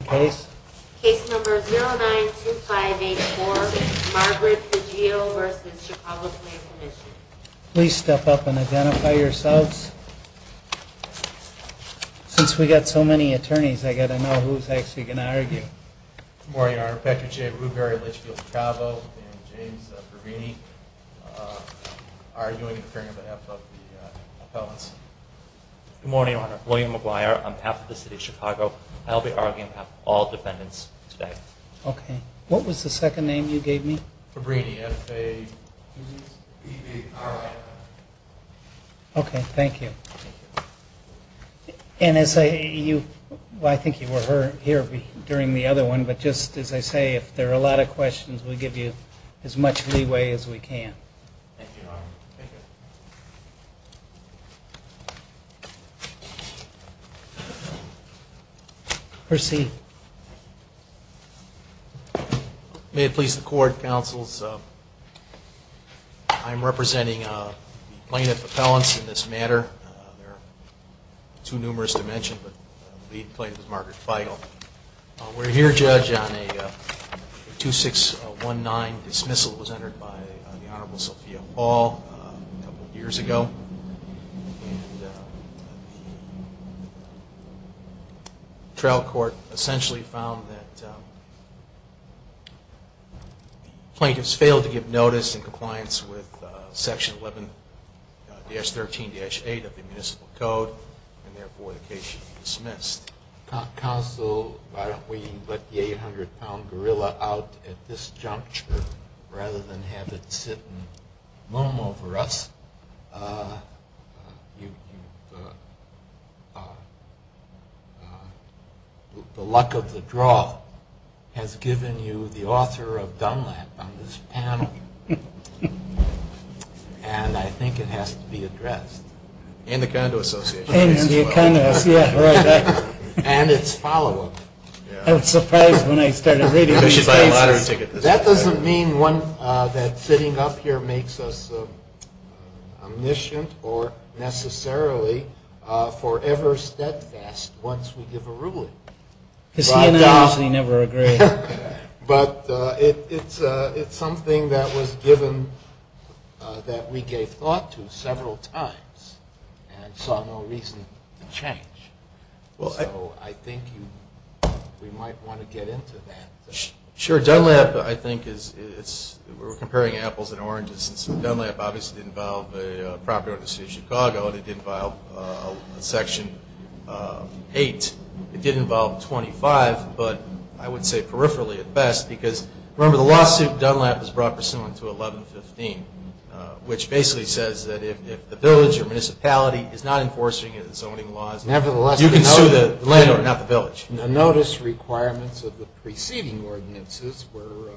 Please step up and identify yourselves. Since we've got so many attorneys, I've got to know who's actually going to argue. Good morning, Your Honor. Patrick J. Brugeri, Litchfield-Petravo, and James Pervini are doing the hearing on behalf of the appellants. Good morning, Your Honor. William McGuire, on behalf of the City of Chicago. I'll be arguing on behalf of all defendants today. Okay. What was the second name you gave me? Pervini, F-A-B-B-R-I. Okay, thank you. Thank you. And I think you were here during the other one, but just as I say, if there are a lot of questions, we'll give you as much leeway as we can. Thank you, Your Honor. Thank you. Proceed. May it please the Court, counsels, I'm representing the plaintiff appellants in this matter. There are too numerous to mention, but the lead plaintiff is Margaret Feigl. We're here, Judge, on a 2619 dismissal that was entered by the Honorable Sophia Paul a couple of years ago. And the trial court essentially found that plaintiffs failed to give notice in compliance with Section 11-13-8 of the municipal code, and therefore the case is dismissed. Counsel, why don't we let the 800-pound gorilla out at this juncture rather than have it sit and moan over us? The luck of the draw has given you the author of dumb luck on this panel, and I think it has to be addressed. And the Condo Association. And its follow-up. That doesn't mean that sitting up here makes us omniscient or necessarily forever steadfast once we give a ruling. Because he and I usually never agree. But it's something that was given that we gave thought to several times and saw no reason to change. So I think we might want to get into that. Sure. Dunlap, I think, we're comparing apples and oranges. Dunlap obviously didn't file a property order to the city of Chicago, and it didn't file Section 8. It did involve 25, but I would say peripherally at best, because remember the lawsuit Dunlap has brought pursuant to 11-15, which basically says that if the village or municipality is not enforcing its zoning laws, you can sue the landlord, not the village. Notice requirements of the preceding ordinances were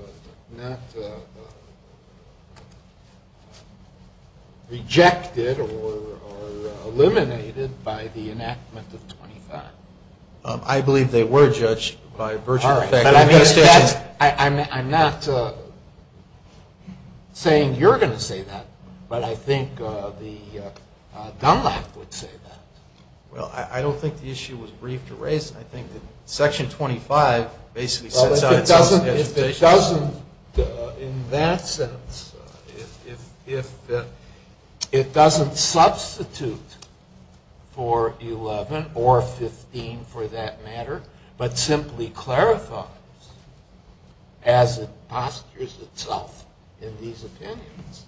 not rejected or eliminated by the enactment of 25. I believe they were judged by virtue of fact. I'm not saying you're going to say that, but I think Dunlap would say that. Well, I don't think the issue was briefed or raised. I think that Section 25 basically sets out its own hesitation. Well, if it doesn't in that sense, if it doesn't substitute for 11 or 15 for that matter, but simply clarifies as it postures itself in these opinions,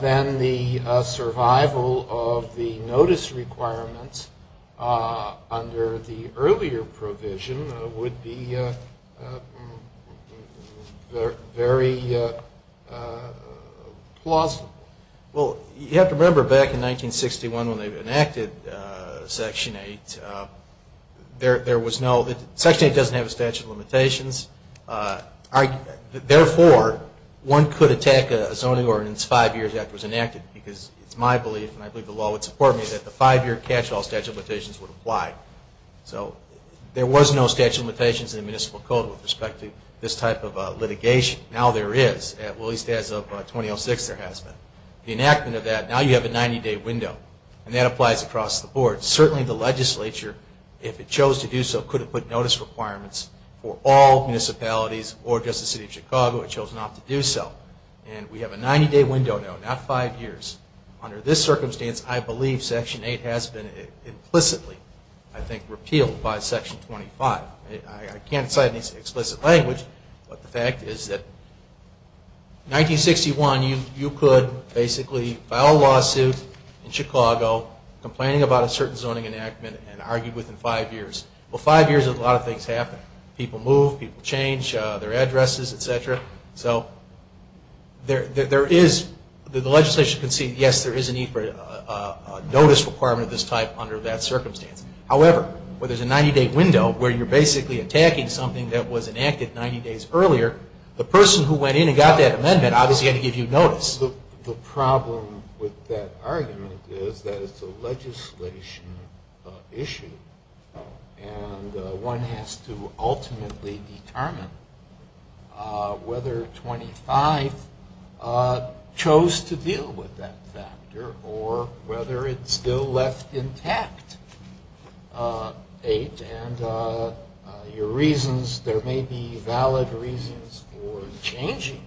then the survival of the notice requirements under the earlier provision would be very plausible. You have to remember back in 1961 when they enacted Section 8, Section 8 doesn't have a statute of limitations. Therefore, one could attack a zoning ordinance five years after it was enacted, because it's my belief, and I believe the law would support me, that the five-year catch-all statute of limitations would apply. There was no statute of limitations in the municipal code with respect to this type of litigation. Now there is, at least as of 2006 there has been. The enactment of that, now you have a 90-day window, and that applies across the board. Certainly the legislature, if it chose to do so, could have put notice requirements for all municipalities or just the City of Chicago had chosen not to do so. And we have a 90-day window now, not five years. Under this circumstance, I believe Section 8 has been implicitly, I think, repealed by Section 25. I can't cite any explicit language, but the fact is that in 1961 you could basically file a lawsuit in Chicago complaining about a certain zoning enactment and argue within five years. Well, five years, a lot of things happen. People move, people change their addresses, etc. So there is, the legislature can see, yes, there is a need for a notice requirement of this type under that circumstance. However, where there is a 90-day window, where you are basically attacking something that was enacted 90 days earlier, the person who went in and got that amendment obviously had to give you notice. The problem with that argument is that it is a legislation issue, and one has to ultimately determine whether 25 chose to deal with that factor or whether it's still left intact. Eight, and your reasons, there may be valid reasons for changing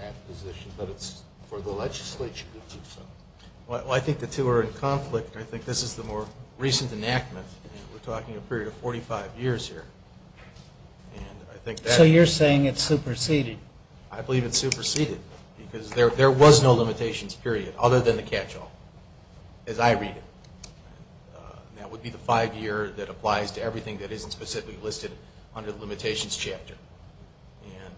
that position, but it's for the legislature to do so. Well, I think the two are in conflict. I think this is the more recent enactment, and we're talking a period of 45 years here. So you're saying it's superseded? I believe it's superseded, because there was no limitations period other than the catch-all, as I read it. That would be the five-year that applies to everything that isn't specifically listed under the limitations chapter. And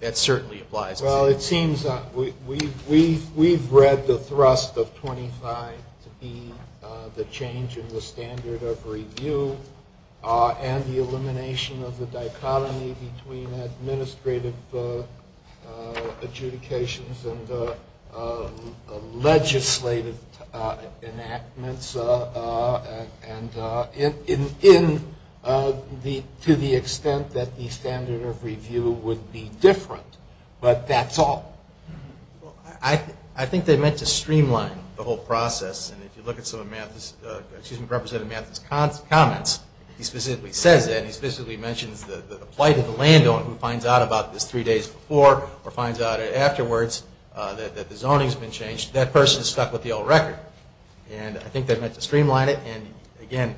that certainly applies. Well, it seems that we've read the thrust of 25 to be the change in the standard of review and the elimination of the dichotomy between administrative adjudications and legislative enactments to the extent that the standard of review would be different. But that's all. I think they meant to streamline the whole process. And if you look at Representative Mathis' comments, he specifically says that. He specifically mentions the plight of the landowner who finds out about this three days before or finds out afterwards that the zoning's been changed. That person is stuck with the old record. And I think they meant to streamline it. And, again,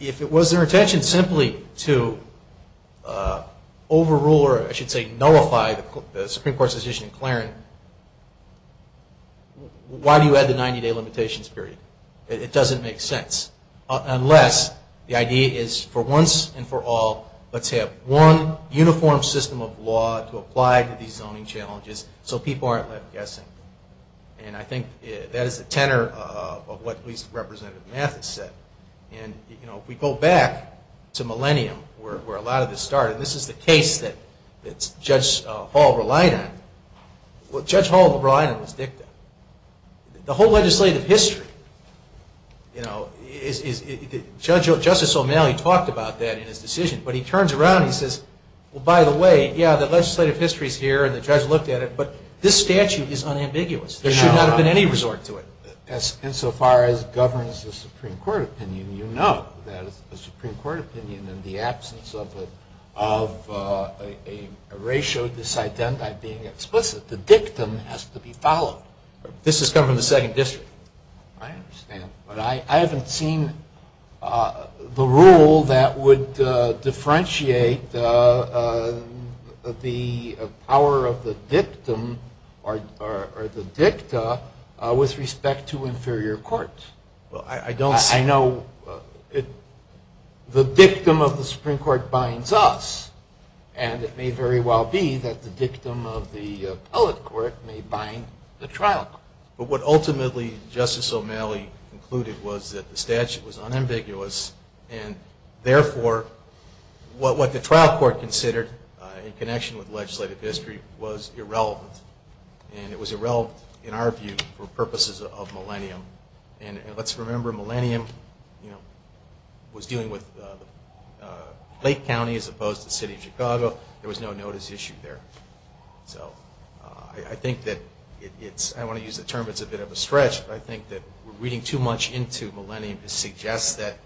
if it was their intention simply to overrule or, I should say, nullify the Supreme Court's decision in Clarence, why do you add the 90-day limitations period? It doesn't make sense. Unless the idea is for once and for all, let's have one uniform system of law to apply to these zoning challenges so people aren't left guessing. And I think that is the tenor of what Representative Mathis said. And, you know, if we go back to millennium, where a lot of this started, this is the case that Judge Hall relied on. What Judge Hall relied on was DICTA. The whole legislative history, you know, Justice O'Malley talked about that in his decision, but he turns around and he says, Well, by the way, yeah, the legislative history's here and the judge looked at it, but this statute is unambiguous. There should not have been any resort to it. Insofar as it governs the Supreme Court opinion, you know that it's the Supreme Court opinion in the absence of a ratio of this identity being explicit. The DICTA has to be followed. This has come from the Second District. I understand, but I haven't seen the rule that would differentiate the power of the dictum or the DICTA with respect to inferior court. I know the dictum of the Supreme Court binds us, and it may very well be that the dictum of the appellate court may bind the trial court. But what ultimately Justice O'Malley concluded was that the statute was unambiguous and therefore what the trial court considered in connection with legislative history was irrelevant. And it was irrelevant in our view for purposes of Millennium. And let's remember Millennium was dealing with Lake County as opposed to the city of Chicago. There was no notice issued there. So I think that it's, I don't want to use the term, it's a bit of a stretch, but I think that we're reading too much into Millennium to suggest that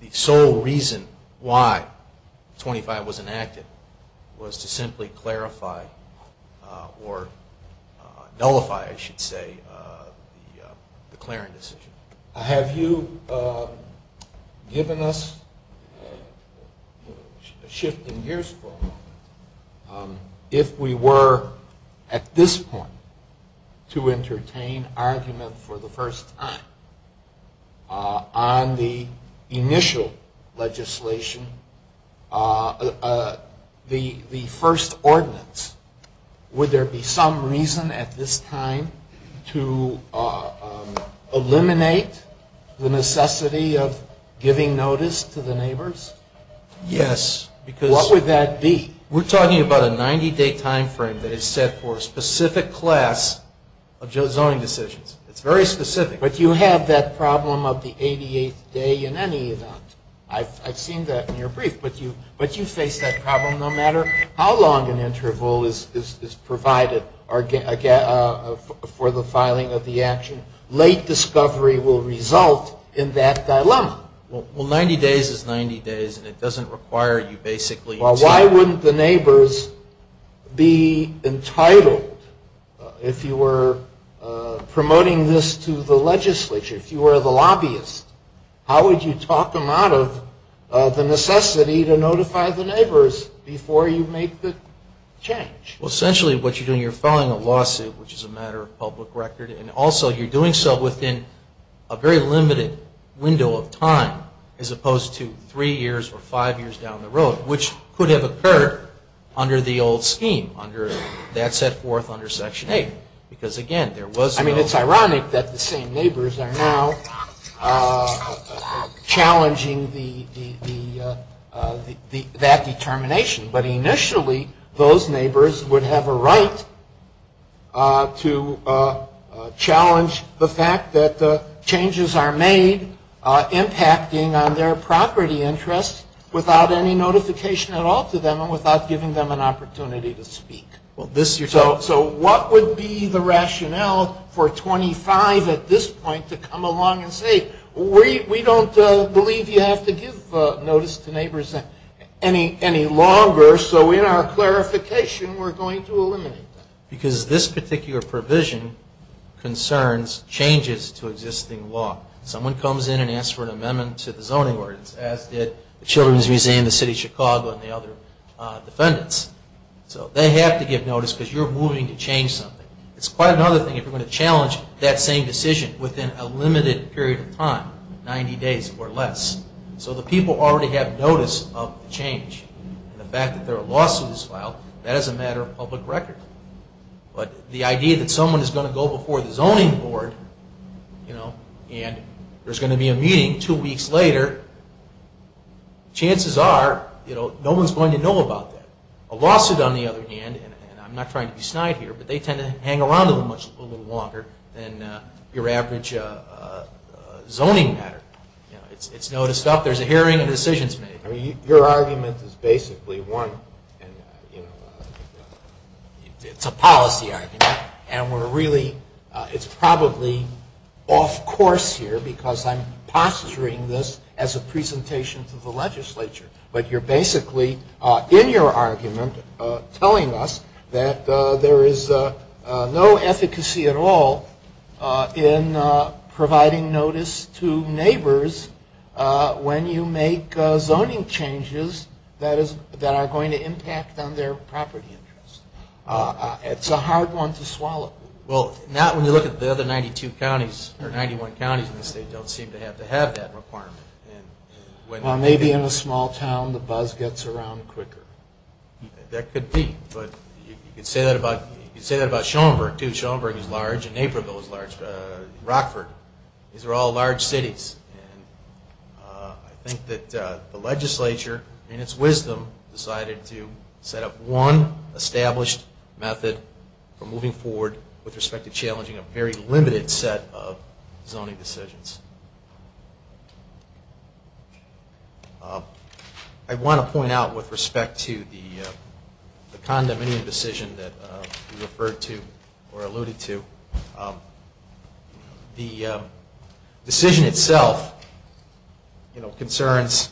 the sole reason why 25 was enacted was to simply clarify or nullify, I should say, the Clarion decision. Have you given us a shift in gears for a moment? If we were at this point to entertain argument for the first time on the initial legislation, the first ordinance, would there be some reason at this time to eliminate the necessity of giving notice to the neighbors? Yes. What would that be? We're talking about a 90-day time frame that is set for a specific class of zoning decisions. It's very specific. But you have that problem of the 88th day in any event. I've seen that in your brief. But you face that problem no matter how long an interval is provided for the filing of the action. Late discovery will result in that dilemma. Well, 90 days is 90 days, and it doesn't require you basically to... Well, why wouldn't the neighbors be entitled, if you were promoting this to the legislature, if you were the lobbyist, how would you talk them out of the necessity to notify the neighbors before you make the change? Well, essentially what you're doing, you're filing a lawsuit, which is a matter of public record, and also you're doing so within a very limited window of time as opposed to three years or five years down the road, which could have occurred under the old scheme, under that set forth under Section 8, because, again, there was no... ...challenging that determination. But initially those neighbors would have a right to challenge the fact that changes are made impacting on their property interest without any notification at all to them and without giving them an opportunity to speak. So what would be the rationale for 25 at this point to come along and say, we don't believe you have to give notice to neighbors any longer, so in our clarification we're going to eliminate that? Because this particular provision concerns changes to existing law. Someone comes in and asks for an amendment to the zoning ordinance, as did the Children's Museum, the City of Chicago, and the other defendants. So they have to give notice because you're moving to change something. It's quite another thing if you're going to challenge that same decision within a limited period of time, 90 days or less. So the people already have notice of the change. The fact that there are lawsuits filed, that is a matter of public record. But the idea that someone is going to go before the zoning board and there's going to be a meeting two weeks later, chances are no one's going to know about that. A lawsuit, on the other hand, and I'm not trying to be snide here, but they tend to hang around a little longer than your average zoning matter. It's noticed up, there's a hearing, a decision is made. Your argument is basically one, it's a policy argument, and we're really, it's probably off course here because I'm posturing this as a presentation to the legislature. But you're basically, in your argument, telling us that there is no efficacy at all in providing notice to neighbors when you make zoning changes that are going to impact on their property interest. It's a hard one to swallow. Well, not when you look at the other 92 counties, or 91 counties in the state, don't seem to have to have that requirement. Well, maybe in a small town the buzz gets around quicker. That could be. But you could say that about Schaumburg, too. Schaumburg is large, and Naperville is large, and Rockford. These are all large cities. I think that the legislature, in its wisdom, decided to set up one established method for moving forward with respect to challenging a very limited set of zoning decisions. I want to point out, with respect to the condominium decision that you referred to or alluded to, the decision itself concerns,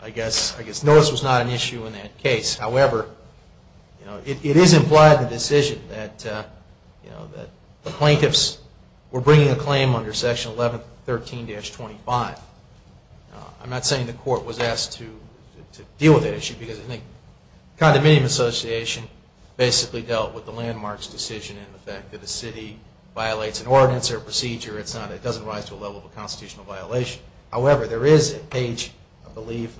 I guess notice was not an issue in that case. However, it is implied in the decision that the plaintiffs were bringing a claim under Section 1113-25. I'm not saying the court was asked to deal with that issue, because I think the Condominium Association basically dealt with the landmarks decision and the fact that a city violates an ordinance or procedure, it doesn't rise to a level of a constitutional violation. However, there is at page, I believe,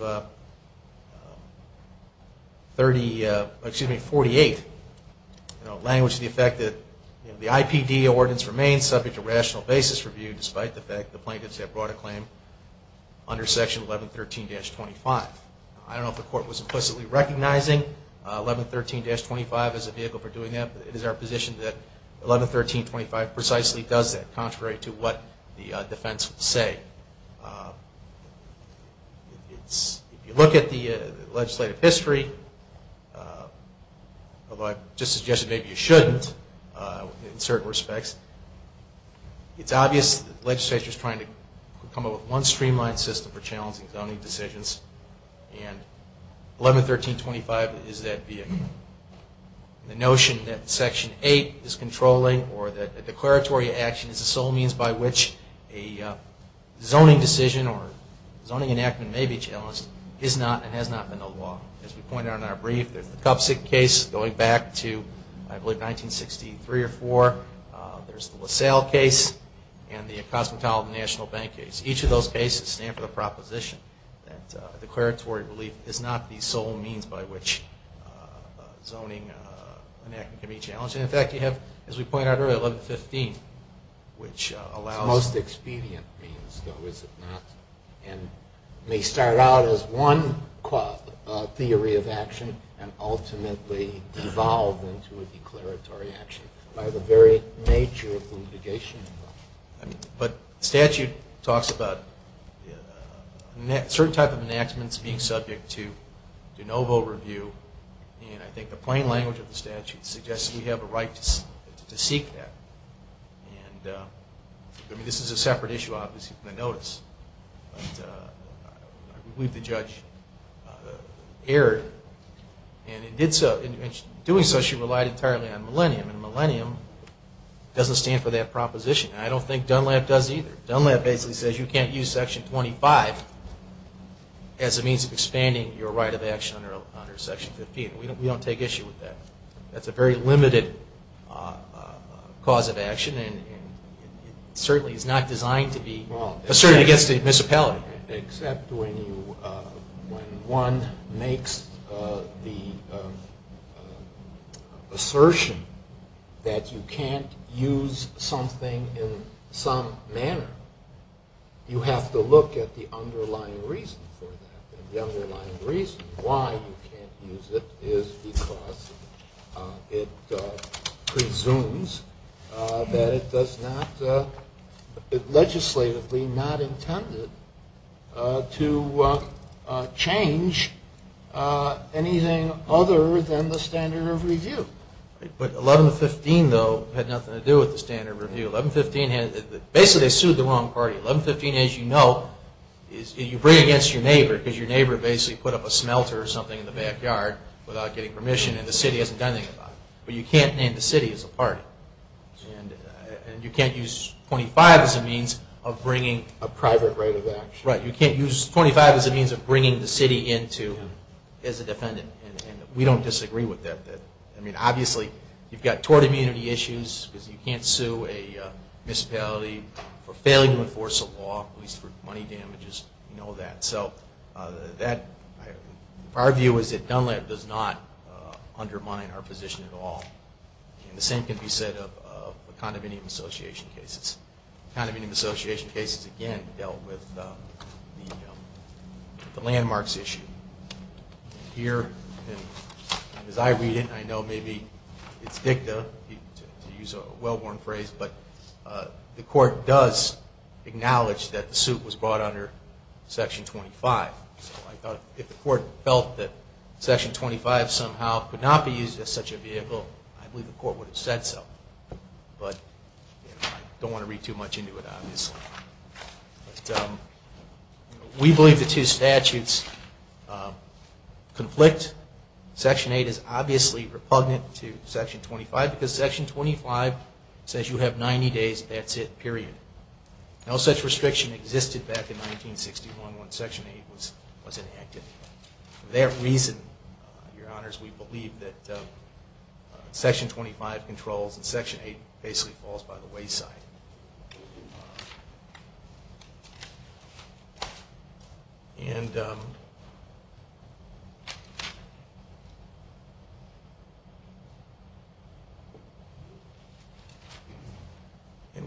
48, language to the effect that the IPD ordinance remains subject to rational basis review, despite the fact that the plaintiffs have brought a claim under Section 1113-25. I don't know if the court was implicitly recognizing 1113-25 as a vehicle for doing that, but it is our position that 1113-25 precisely does that, contrary to what the defense would say. If you look at the legislative history, although I just suggested maybe you shouldn't in certain respects, it's obvious that the legislature is trying to come up with one streamlined system for challenging zoning decisions. And 1113-25 is that vehicle. The notion that Section 8 is controlling or that a declaratory action is the sole means by which a zoning decision or zoning enactment may be challenged is not and has not been the law. As we pointed out in our brief, there's the Cupsick case going back to, I believe, 1963 or 4. There's the LaSalle case and the Cosmopolitan National Bank case. Each of those cases stand for the proposition that declaratory relief is not the sole means by which zoning enactment can be challenged. And, in fact, you have, as we pointed out earlier, 1115, which allows... It's the most expedient means, though, is it not? And may start out as one theory of action and ultimately devolve into a declaratory action by the very nature of the litigation. But statute talks about certain type of enactments being subject to de novo review. And I think the plain language of the statute suggests we have a right to seek that. And this is a separate issue, obviously, from the notice. But I believe the judge erred. And in doing so, she relied entirely on millennium. And millennium doesn't stand for that proposition. And I don't think Dunlap does either. Dunlap basically says you can't use Section 25 as a means of expanding your right of action under Section 15. We don't take issue with that. That's a very limited cause of action, and it certainly is not designed to be asserted against the municipality. Except when one makes the assertion that you can't use something in some manner. You have to look at the underlying reason for that. The underlying reason why you can't use it is because it presumes that it does not legislatively not intended to change anything other than the standard of review. But 1115, though, had nothing to do with the standard of review. 1115 basically sued the wrong party. 1115, as you know, you bring against your neighbor because your neighbor basically put up a smelter or something in the backyard without getting permission. And the city hasn't done anything about it. But you can't name the city as a party. And you can't use 25 as a means of bringing a private right of action. Right. You can't use 25 as a means of bringing the city in as a defendant. And we don't disagree with that. Obviously, you've got tort immunity issues because you can't sue a municipality for failing to enforce a law, at least for money damages. We know that. Our view is that Dunlap does not undermine our position at all. And the same can be said of condominium association cases. Condominium association cases, again, dealt with the landmarks issue. Here, as I read it, I know maybe it's dicta, to use a well-worn phrase, but the court does acknowledge that the suit was brought under Section 25. If the court felt that Section 25 somehow could not be used as such a vehicle, I believe the court would have said so. But I don't want to read too much into it, obviously. But we believe the two statutes conflict. Section 8 is obviously repugnant to Section 25 because Section 25 says you have 90 days, that's it, period. No such restriction existed back in 1961 when Section 8 was enacted. For that reason, Your Honors, we believe that Section 25 controls and Section 8 basically falls by the wayside. And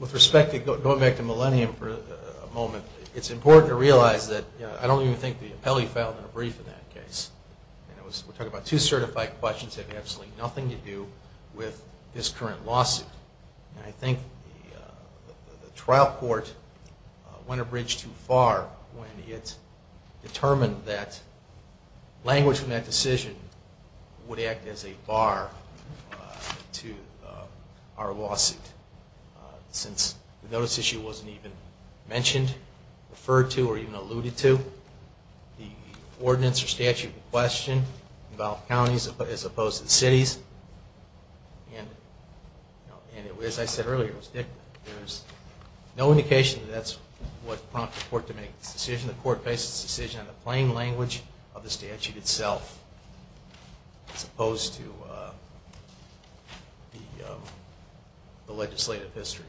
with respect to going back to Millennium for a moment, it's important to realize that I don't even think the appellee filed a brief in that case. We're talking about two certified questions that have absolutely nothing to do with this current lawsuit. And I think the trial court went a bridge too far when it determined that language from that decision would act as a bar to our lawsuit. Since the notice issue wasn't even mentioned, referred to, or even alluded to. The ordinance or statute in question involved counties as opposed to cities. And as I said earlier, there's no indication that that's what prompted the court to make this decision. The court based its decision on the plain language of the statute itself as opposed to the legislative history.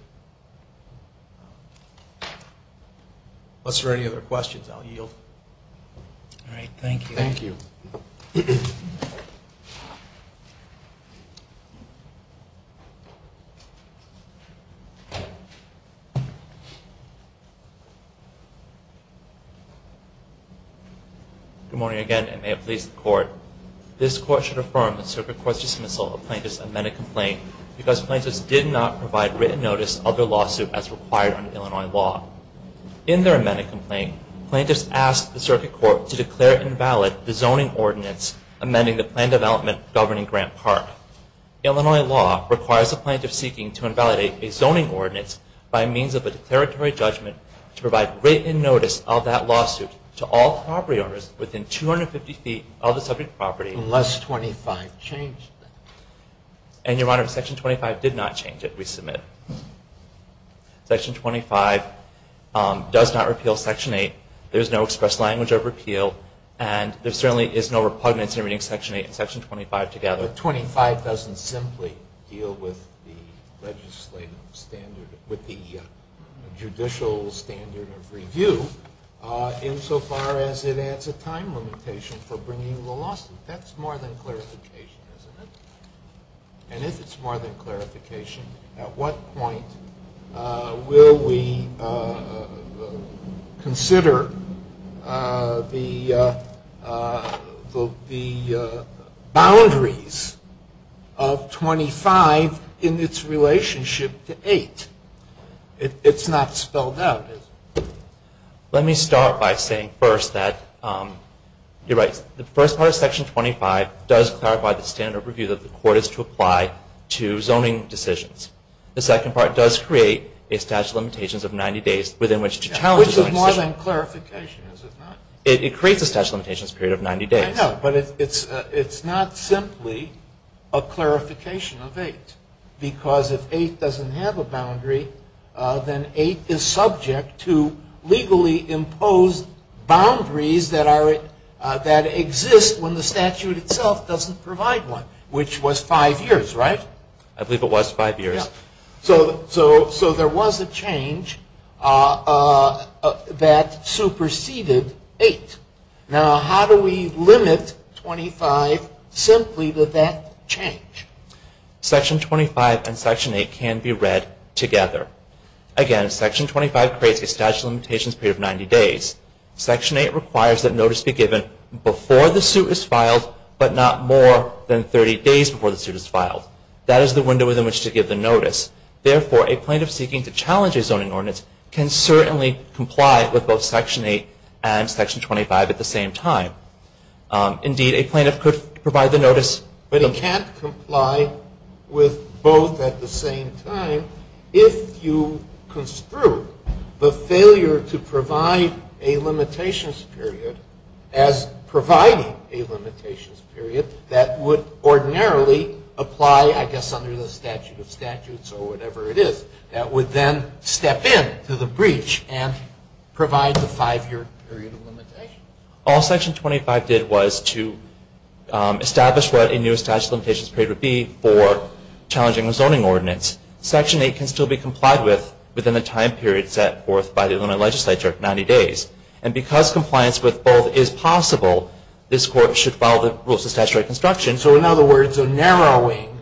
Unless there are any other questions, I'll yield. Good morning again and may it please the Court. This Court should affirm the Circuit Court's dismissal of plaintiffs' amended complaint because plaintiffs did not provide written notice of their lawsuit as required under Illinois law. In their amended complaint, plaintiffs asked the Circuit Court to declare invalid the zoning ordinance amending the plan development governing Grant Park. Illinois law requires the plaintiff seeking to invalidate a zoning ordinance by means of a declaratory judgment to provide written notice of that lawsuit to all property owners within 250 feet of the subject property. Unless 25 changed that. And, Your Honor, Section 25 did not change it. We submit. Section 25 does not repeal Section 8. There is no express language of repeal and there certainly is no repugnance in reading Section 8 and Section 25 together. But 25 doesn't simply deal with the legislative standard, with the judicial standard of review insofar as it adds a time limitation for bringing the lawsuit. That's more than clarification, isn't it? And if it's more than clarification, at what point will we consider the boundaries of 25 in its relationship to 8? It's not spelled out, is it? Let me start by saying first that, you're right, the first part of Section 25 does clarify the standard of review that the court is to apply to zoning decisions. The second part does create a statute of limitations of 90 days within which to challenge a zoning decision. Which is more than clarification, is it not? It creates a statute of limitations period of 90 days. I know, but it's not simply a clarification of 8 because if 8 doesn't have a boundary, then 8 is subject to legally imposed boundaries that exist when the statute itself doesn't provide one, which was 5 years, right? I believe it was 5 years. So there was a change that superseded 8. Now how do we limit 25 simply to that change? Section 25 and Section 8 can be read together. Again, Section 25 creates a statute of limitations period of 90 days. Section 8 requires that notice be given before the suit is filed, but not more than 30 days before the suit is filed. That is the window within which to give the notice. Therefore, a plaintiff seeking to challenge a zoning ordinance can certainly comply with both Section 8 and Section 25 at the same time. Indeed, a plaintiff could provide the notice. But it can't comply with both at the same time if you construe the failure to provide a limitations period as providing a limitations period that would ordinarily apply, I guess, under the statute of statutes of limitations. That would then step in to the breach and provide the 5-year period of limitations. All Section 25 did was to establish what a new statute of limitations period would be for challenging a zoning ordinance. Section 8 can still be complied with within the time period set forth by the Illinois legislature of 90 days. And because compliance with both is possible, this Court should follow the rules of statutory construction. In other words, a narrowing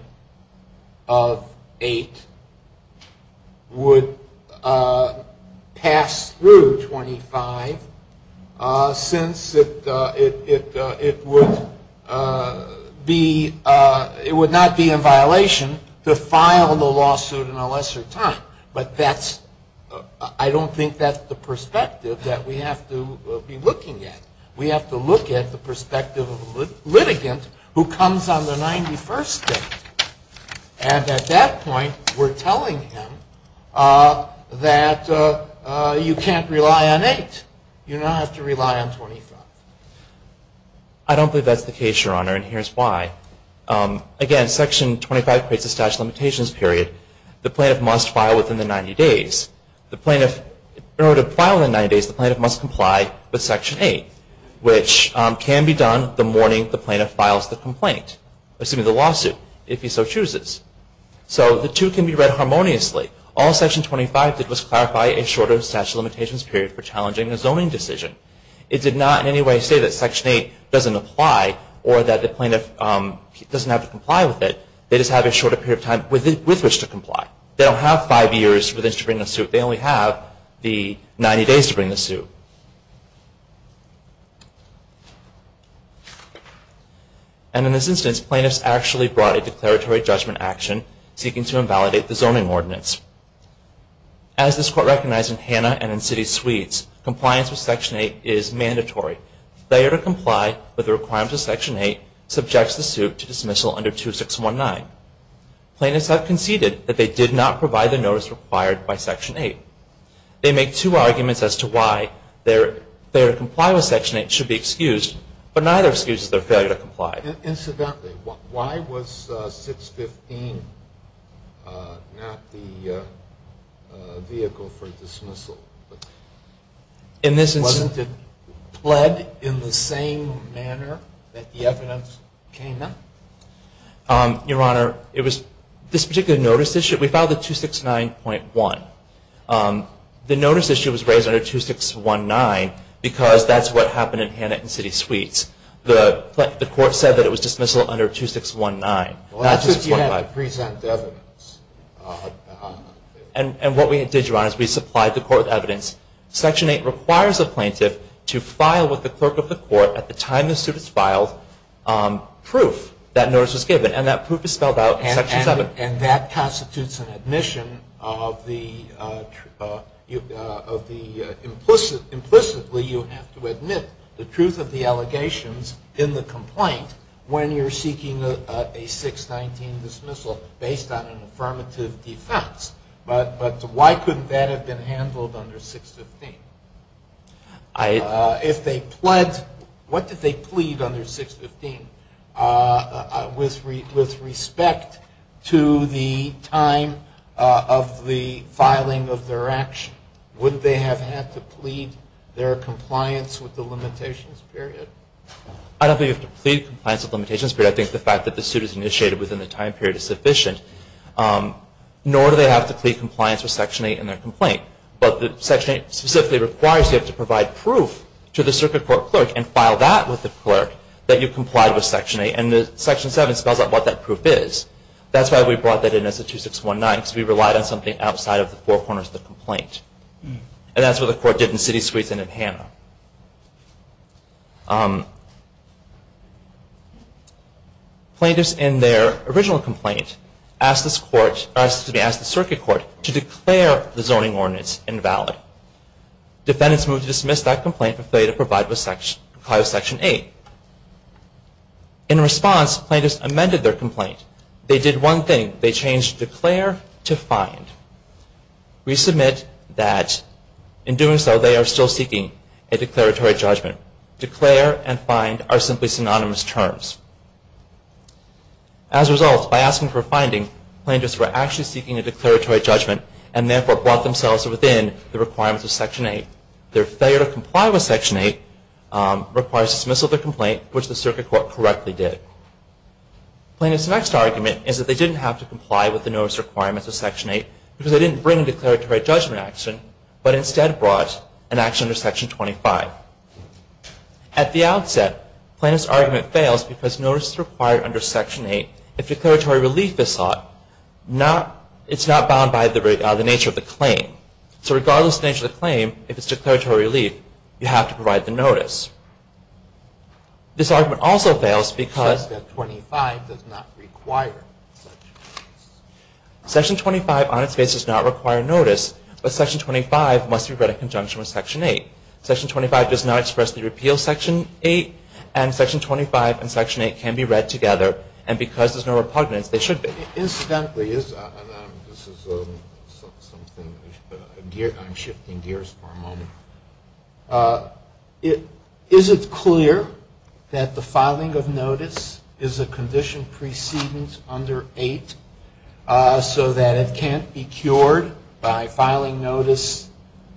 of 8 would pass through 25 since it would not be in violation to file the lawsuit in a lesser time. But I don't think that's the perspective that we have to be looking at. We have to look at the perspective of the litigant who comes on the 91st day. And at that point, we're telling him that you can't rely on 8. You now have to rely on 25. I don't believe that's the case, Your Honor, and here's why. Again, Section 25 creates a statute of limitations period the plaintiff must file within the 90 days. In order to file within 90 days, the plaintiff must comply with Section 8, which can be done the morning the plaintiff files the lawsuit, if he so chooses. So the two can be read harmoniously. All Section 25 did was clarify a shorter statute of limitations period for challenging a zoning decision. It did not in any way say that Section 8 doesn't apply or that the plaintiff doesn't have to comply with it. They just have a shorter period of time with which to comply. They don't have five years with which to bring the suit. They only have the 90 days to bring the suit. And in this instance, plaintiffs actually brought a declaratory judgment action seeking to invalidate the zoning ordinance. As this Court recognized in Hanna and in City Suites, compliance with Section 8 is mandatory. Failure to comply with the requirements of Section 8 subjects the suit to dismissal under 2619. Plaintiffs have conceded that they did not provide the notice required by Section 8. They make two arguments as to why their failure to comply with Section 8 should be excused, but neither excuses their failure to comply. Incidentally, why was 615 not the vehicle for dismissal? Wasn't it pled in the same manner that the evidence came up? Your Honor, this particular notice issue, we filed it 269.1. The notice issue was raised under 2619 because that's what happened in Hanna and City Suites. The Court said that it was dismissal under 2619. And what we did, Your Honor, is we supplied the Court with evidence. Section 8 requires a plaintiff to file with the clerk of the Court at the time the suit is filed proof that notice was given. And that proof is spelled out in Section 7. And that constitutes an admission of the implicitly you have to admit the truth of the allegations in the complaint when you're seeking a 619 dismissal based on an affirmative defense. But why couldn't that have been handled under 615? If they pled, what did they plead under 615 with respect to the time of the filing of their action? Wouldn't they have had to plead their compliance with the limitations period? I don't think you have to plead compliance with limitations, but I think the fact that the suit is initiated within the time period is sufficient. Nor do they have to plead compliance with Section 8 in their complaint. But Section 8 specifically requires you have to provide proof to the Circuit Court clerk and file that with the clerk that you complied with Section 8. And Section 7 spells out what that proof is. That's why we brought that in as a 2619, because we relied on something outside of the four corners of the complaint. And that's what the Court did in City Suites and in Hanna. Plaintiffs in their original complaint asked the Circuit Court to declare the zoning ordinance invalid. Defendants moved to dismiss that complaint for failure to comply with Section 8. In response, plaintiffs amended their complaint. They did one thing. They changed declare to find. We submit that in doing so they are still seeking a declaratory judgment. Declare and find are simply synonymous terms. As a result, by asking for a finding, plaintiffs were actually seeking a declaratory judgment and therefore brought themselves within the requirements of Section 8. Their failure to comply with Section 8 requires dismissal of their complaint, which the Circuit Court correctly did. Plaintiffs' next argument is that they didn't have to comply with the notice requirements of Section 8 because they didn't bring a declaratory judgment action, but instead brought an action under Section 25. At the outset, plaintiffs' argument fails because notice is required under Section 8. If declaratory relief is sought, it's not bound by the nature of the claim. So regardless of the nature of the claim, if it's declaratory relief, you have to provide the notice. This argument also fails because Section 25 does not require notice. But Section 25 must be read in conjunction with Section 8. Section 25 does not express the repeal of Section 8. And Section 25 and Section 8 can be read together. And because there's no repugnance, they should be. Incidentally, is it clear that the filing of notice is a condition precedence under 8 so that it can't be cured by filing notice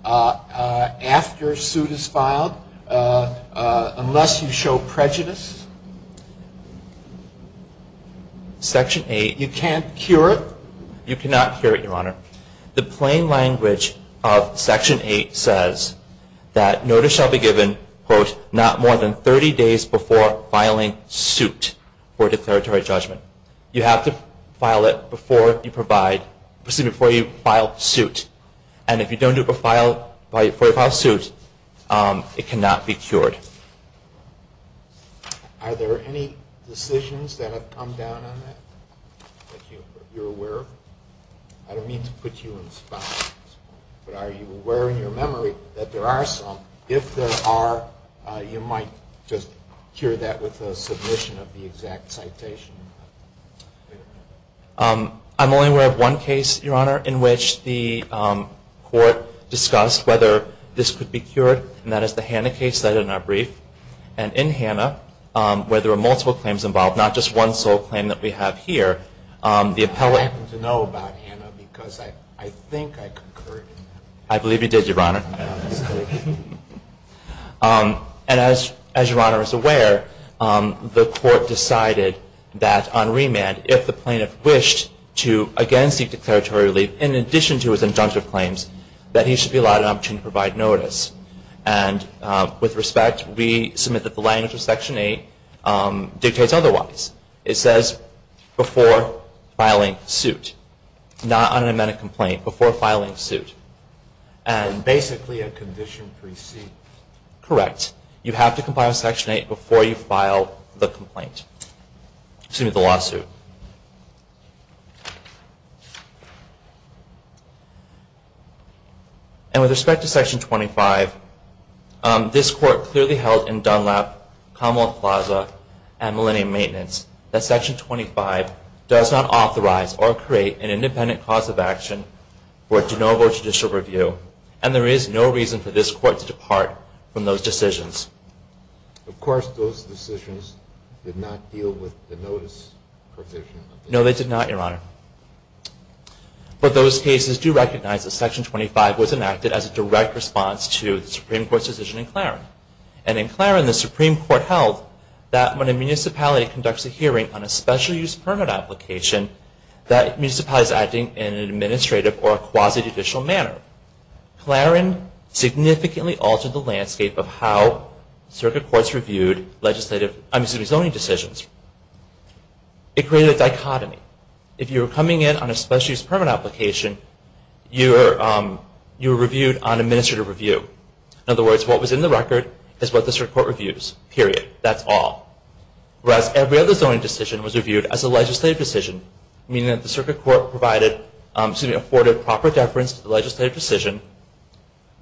after a suit is filed unless you show prejudice? Section 8, you can't cure it? You cannot cure it, Your Honor. The plain language of Section 8 says that notice shall be given, quote, not more than 30 days before filing suit for declaratory judgment. You have to file it before you file suit. And if you don't do it before you file suit, it cannot be cured. Are there any decisions that have come down on that that you're aware of? I don't mean to put you in a spot, but are you aware in your memory that there are some? If there are, you might just cure that with a submission of the exact citation. I'm only aware of one case, Your Honor, in which the court discussed whether this could be cured. And that is the Hanna case cited in our brief. And in Hanna, where there are multiple claims involved, not just one sole claim that we have here, the appellate I happen to know about Hanna because I think I concurred. I believe you did, Your Honor. And as Your Honor is aware, the court decided that on remand, if the plaintiff wished to again seek declaratory relief in addition to his injunctive claims, that he should be allowed an opportunity to provide notice. And with respect, we submit that the language of Section 8 dictates otherwise. It says before filing suit, not on an amended complaint, before filing suit. And basically a condition precedes. Correct. You have to comply with Section 8 before you file the lawsuit. And with respect to Section 25, this court clearly held in Dunlap, Commonwealth Plaza, and Millennium Maintenance, that Section 25 does not authorize or create an independent cause of action for a de novo judicial review. And there is no reason for this court to depart from those decisions. Of course, those decisions did not deal with the notice provision. No, they did not, Your Honor. But those cases do recognize that Section 25 was enacted as a direct response to the Supreme Court's decision in Claren. And in Claren, the Supreme Court held that when a municipality conducts a hearing on a special use permit application, that municipality is acting in an administrative or a quasi-judicial manner. Claren significantly altered the landscape of how circuit courts reviewed zoning decisions. It created a dichotomy. If you were coming in on a special use permit application, you were reviewed on administrative review. In other words, what was in the record is what the circuit court reviews. Period. That's all. Whereas every other zoning decision was reviewed as a legislative decision, meaning that the circuit court afforded proper deference to the legislative decision,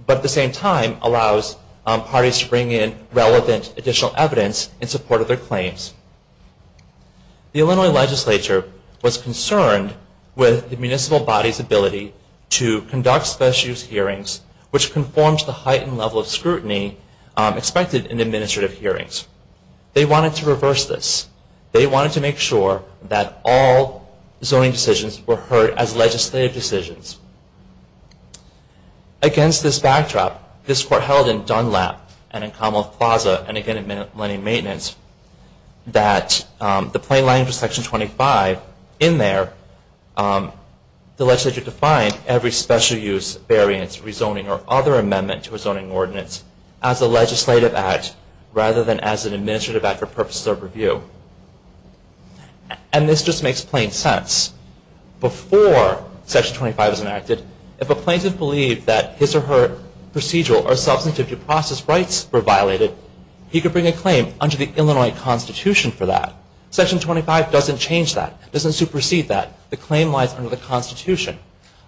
but at the same time allows parties to bring in relevant additional evidence in support of their claims. The Illinois legislature was concerned with the municipal body's ability to conduct special use hearings, which conforms to the heightened level of scrutiny expected in administrative hearings. They wanted to reverse this. They wanted to make sure that all zoning decisions were heard as legislative decisions. Against this backdrop, this Court held in Dunlap and in Commonwealth Plaza, and again in Millennium Maintenance, that the plain language of Section 25, but in there the legislature defined every special use, variance, rezoning, or other amendment to a zoning ordinance as a legislative act, rather than as an administrative act for purposes of review. And this just makes plain sense. Before Section 25 was enacted, if a plaintiff believed that his or her procedural or substantive due process rights were violated, he could bring a claim under the Illinois Constitution for that. Section 25 doesn't change that. It doesn't supersede that. The claim lies under the Constitution.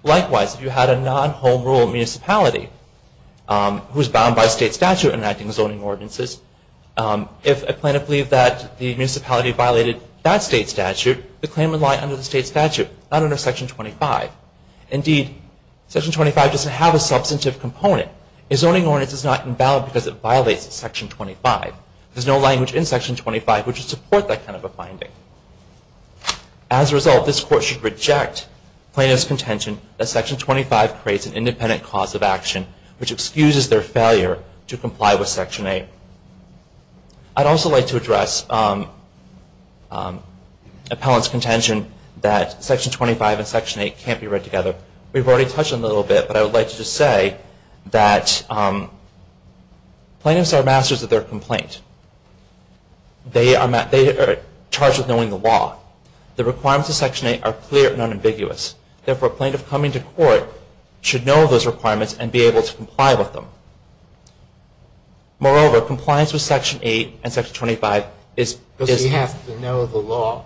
Likewise, if you had a non-home rule municipality, who is bound by state statute in enacting zoning ordinances, if a plaintiff believed that the municipality violated that state statute, the claim would lie under the state statute, not under Section 25. Indeed, Section 25 doesn't have a substantive component. A zoning ordinance is not invalid because it violates Section 25. There's no language in Section 25 which would support that kind of a finding. As a result, this Court should reject plaintiff's contention that Section 25 creates an independent cause of action, which excuses their failure to comply with Section 8. I'd also like to address appellant's contention that Section 25 and Section 8 can't be read together. We've already touched on it a little bit, but I would like to just say that plaintiffs are masters of their complaint. They are charged with knowing the law. The requirements of Section 8 are clear and unambiguous. Therefore, a plaintiff coming to court should know those requirements and be able to comply with them. Moreover, compliance with Section 8 and Section 25 is- Does he have to know the law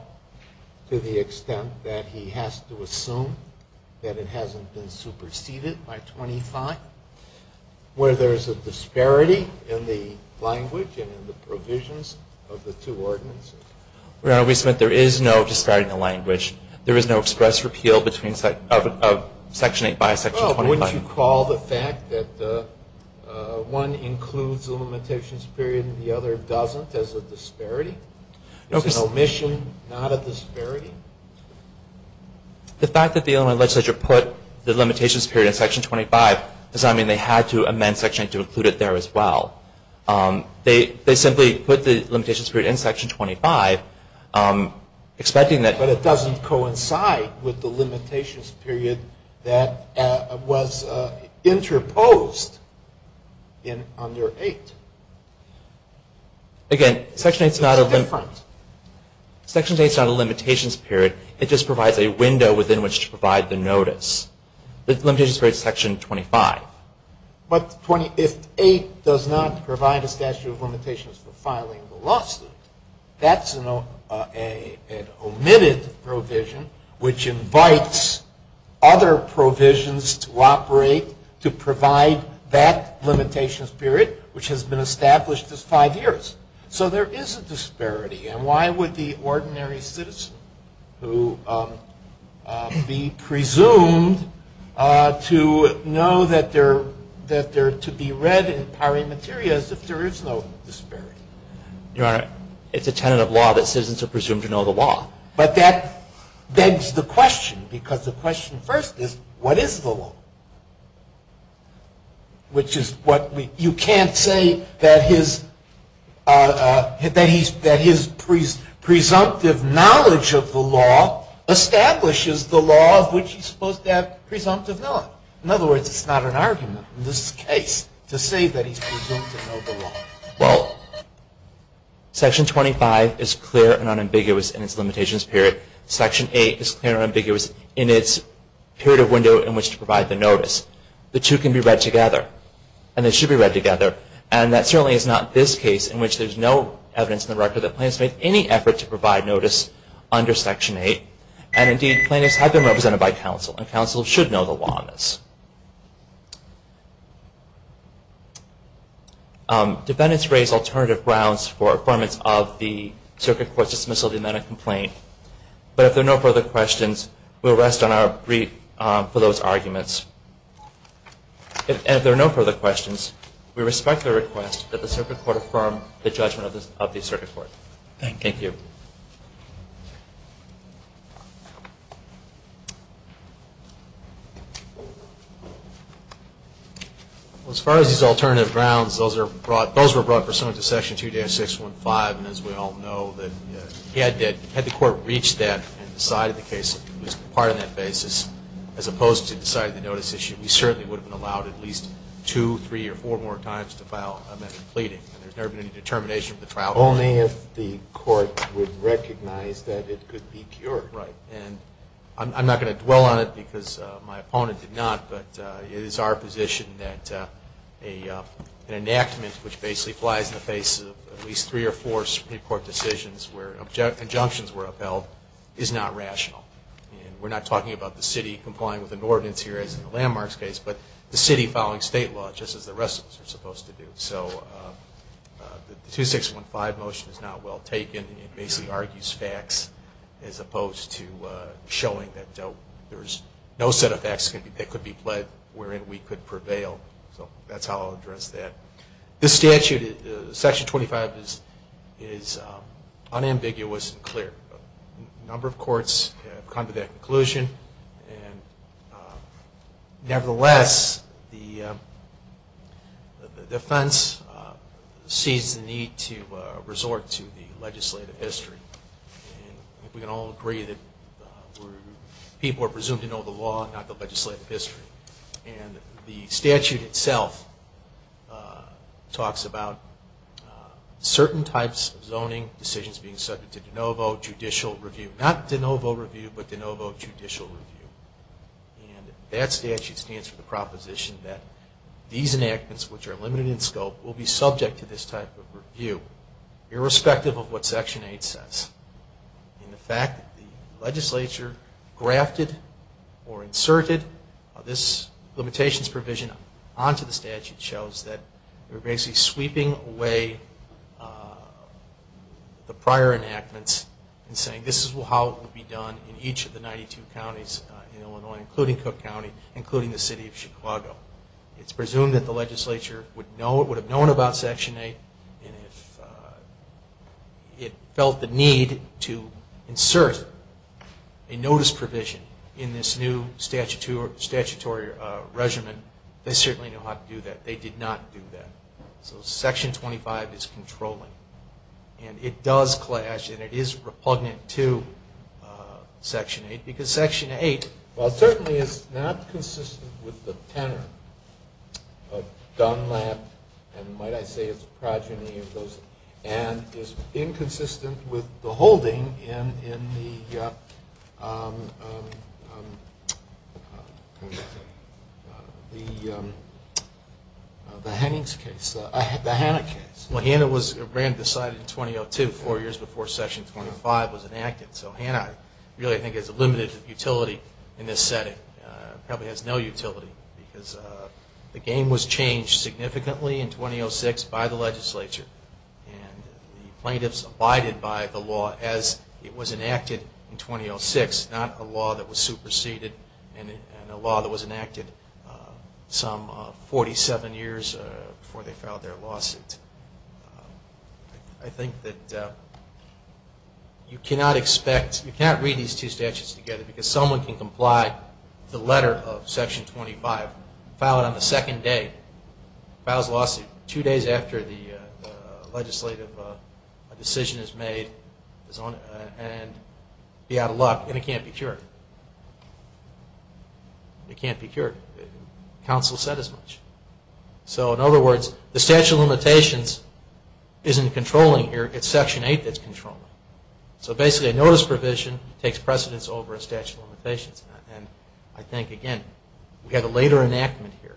to the extent that he has to assume that it hasn't been superseded by 25? Where there is a disparity in the language and in the provisions of the two ordinances? Your Honor, we submit there is no disparity in the language. There is no express repeal of Section 8 by Section 25. Well, wouldn't you call the fact that one includes a limitations period and the other doesn't as a disparity? Is an omission not a disparity? The fact that the Illinois legislature put the limitations period in Section 25 does not mean they had to amend Section 8 to include it there as well. They simply put the limitations period in Section 25 expecting that- But it doesn't coincide with the limitations period that was interposed in under 8. Again, Section 8 is not a- It's different. Section 8 is not a limitations period. It just provides a window within which to provide the notice. The limitations period is Section 25. But if 8 does not provide a statute of limitations for filing the lawsuit, that's an omitted provision, which invites other provisions to operate to provide that limitations period, which has been established as five years. So there is a disparity. And why would the ordinary citizen, who be presumed to know that they're to be read in pari materias, if there is no disparity? Your Honor, it's a tenet of law that citizens are presumed to know the law. But that begs the question, because the question first is, what is the law? Which is what we- You can't say that his presumptive knowledge of the law establishes the law of which he's supposed to have presumptive knowledge. In other words, it's not an argument in this case to say that he's presumed to know the law. Well, Section 25 is clear and unambiguous in its limitations period. The two can be read together, and they should be read together. And that certainly is not this case, in which there's no evidence in the record that plaintiffs made any effort to provide notice under Section 8. And indeed, plaintiffs have been represented by counsel, and counsel should know the law on this. Defendants raise alternative grounds for affirmance of the Circuit Court's dismissal of the amendment complaint. But if there are no further questions, we'll rest on our brief for those arguments. And if there are no further questions, we respect the request that the Circuit Court affirm the judgment of the Circuit Court. Thank you. Well, as far as these alternative grounds, those were brought pursuant to Section 2-615. And as we all know, had the Court reached that and decided the case was part of that basis, as opposed to deciding the notice issue, we certainly would have been allowed at least two, three, or four more times to file an amendment pleading. And there's never been any determination of the trial. Only if the Court would recognize that it could be pure. Right. And I'm not going to dwell on it because my opponent did not, but it is our position that an enactment which basically flies in the face of at least three or four Supreme Court decisions where injunctions were upheld is not rational. And we're not talking about the city complying with an ordinance here, as in the Landmarks case, but the city following state law, just as the rest of us are supposed to do. So the 2-615 motion is not well taken. It basically argues facts as opposed to showing that there's no set of facts that could be pledged wherein we could prevail. So that's how I'll address that. This statute, Section 25, is unambiguous and clear. A number of courts have come to that conclusion. Nevertheless, the defense sees the need to resort to the legislative history. We can all agree that people are presumed to know the law, not the legislative history. And the statute itself talks about certain types of zoning decisions being subject to de novo judicial review. Not de novo review, but de novo judicial review. And that statute stands for the proposition that these enactments, which are limited in scope, will be subject to this type of review, irrespective of what Section 8 says. And the fact that the legislature grafted or inserted this limitations provision onto the statute shows that they're basically sweeping away the prior enactments and saying, this is how it will be done in each of the 92 counties in Illinois, including Cook County, including the city of Chicago. It's presumed that the legislature would have known about Section 8, and if it felt the need to insert a notice provision in this new statutory regimen, they certainly know how to do that. They did not do that. So Section 25 is controlling. And it does clash and it is repugnant to Section 8, because Section 8, while certainly is not consistent with the tenor of Dunlap, and might I say it's a progeny of those, and is inconsistent with the holding in the Hanna case. Well, Hanna was decided in 2002, four years before Section 25 was enacted. So Hanna really, I think, has a limited utility in this setting. It probably has no utility, because the game was changed significantly in 2006 by the legislature. And the plaintiffs abided by the law as it was enacted in 2006, not a law that was superseded and a law that was enacted some 47 years before they filed their lawsuit. I think that you cannot expect, you cannot read these two statutes together, because someone can comply with the letter of Section 25, file it on the second day, file his lawsuit two days after the legislative decision is made, and be out of luck, and it can't be cured. It can't be cured. Counsel said as much. So in other words, the statute of limitations isn't controlling here. It's Section 8 that's controlling. So basically a notice provision takes precedence over a statute of limitations. And I think, again, we have a later enactment here.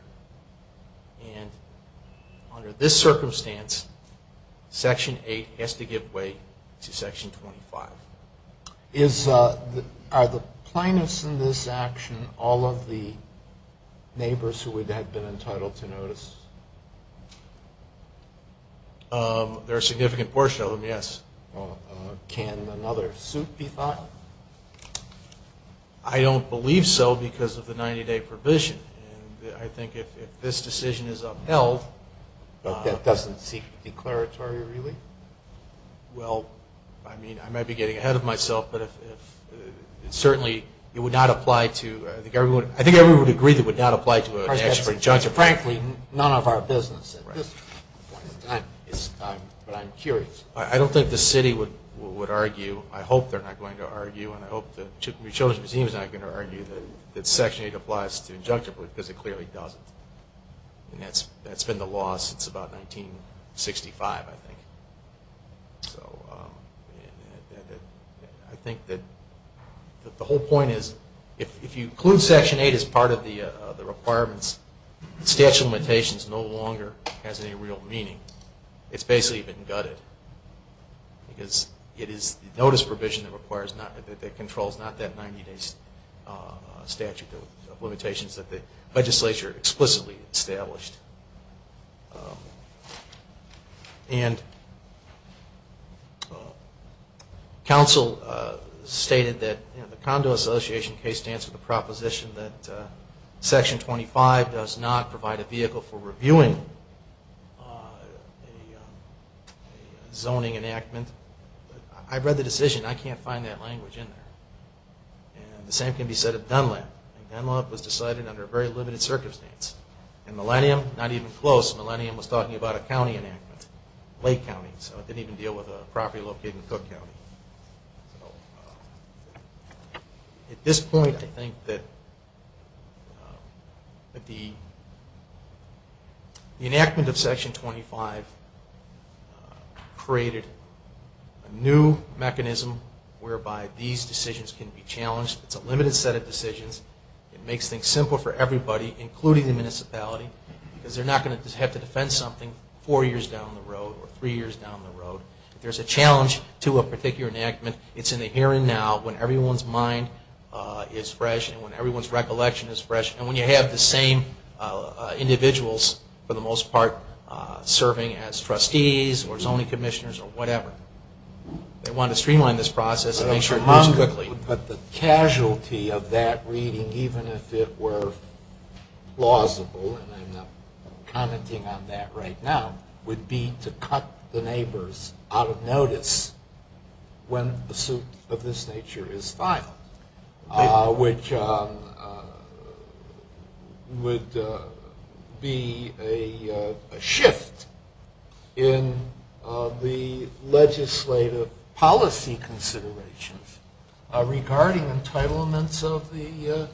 And under this circumstance, Section 8 has to give way to Section 25. Are the plaintiffs in this action all of the neighbors who would have been entitled to notice? There are a significant portion of them, yes. Can another suit be filed? I don't believe so because of the 90-day provision. And I think if this decision is upheld. But that doesn't seek declaratory relief? Well, I mean, I might be getting ahead of myself. But certainly it would not apply to the government. I think everyone would agree that it would not apply to an action for injunction. Frankly, none of our business at this point in time. But I'm curious. I don't think the city would argue. I hope they're not going to argue, and I hope the Children's Museum is not going to argue that Section 8 applies to injunction because it clearly doesn't. And that's been the law since about 1965, I think. So I think that the whole point is if you include Section 8 as part of the requirements, the statute of limitations no longer has any real meaning. It's basically been gutted. Because it is the notice provision that controls not that 90-day statute of limitations that the legislature explicitly established. And council stated that the Condo Association case stands with the proposition that Section 25 does not provide a vehicle for reviewing a zoning enactment. I read the decision. I can't find that language in there. And the same can be said of Dunlap. Dunlap was decided under a very limited circumstance. And Millennium, not even close. Millennium was talking about a county enactment, Lake County. So it didn't even deal with a property located in Cook County. At this point, I think that the enactment of Section 25 created a new mechanism whereby these decisions can be challenged. It's a limited set of decisions. It makes things simple for everybody, including the municipality, because they're not going to have to defend something four years down the road or three years down the road. If there's a challenge to a particular enactment, it's in the here and now when everyone's mind is fresh and when everyone's recollection is fresh. And when you have the same individuals, for the most part, serving as trustees or zoning commissioners or whatever, they want to streamline this process and make sure it moves quickly. But the casualty of that reading, even if it were plausible, and I'm not commenting on that right now, would be to cut the neighbors out of notice when a suit of this nature is filed, which would be a shift in the legislative policy considerations regarding entitlements of the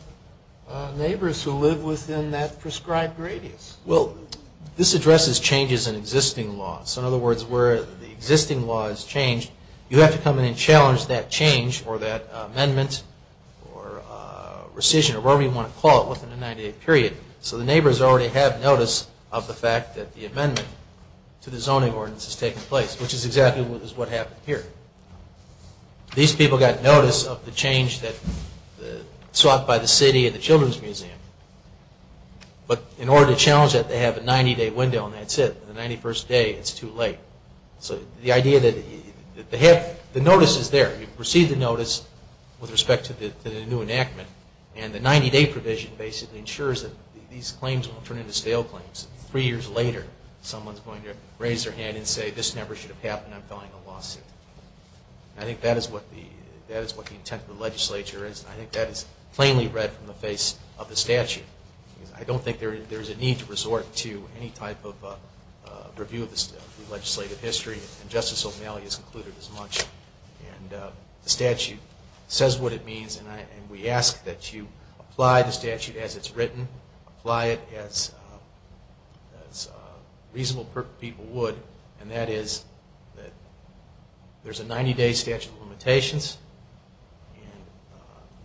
neighbors who live within that prescribed radius. Well, this addresses changes in existing laws. In other words, where the existing law has changed, you have to come in and challenge that change or that amendment or rescission or whatever you want to call it within a 90-day period so the neighbors already have notice of the fact that the amendment to the zoning ordinance is taking place, which is exactly what happened here. These people got notice of the change sought by the city and the Children's Museum. But in order to challenge that, they have a 90-day window and that's it. The 91st day, it's too late. So the idea that the notice is there. You've received the notice with respect to the new enactment and the 90-day provision basically ensures that these claims won't turn into stale claims. Three years later, someone's going to raise their hand and say, this never should have happened, I'm filing a lawsuit. I think that is what the intent of the legislature is. I think that is plainly read from the face of the statute. I don't think there is a need to resort to any type of review of the legislative history, and Justice O'Malley has included as much. The statute says what it means, and we ask that you apply the statute as it's written, apply it as reasonable people would, and that is that there's a 90-day statute of limitations and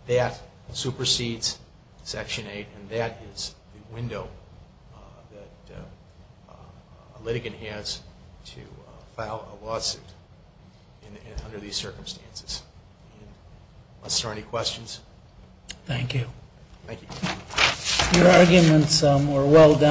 that supersedes Section 8, and that is the window that a litigant has to file a lawsuit under these circumstances. Unless there are any questions. Thank you. Thank you. Your arguments were well done.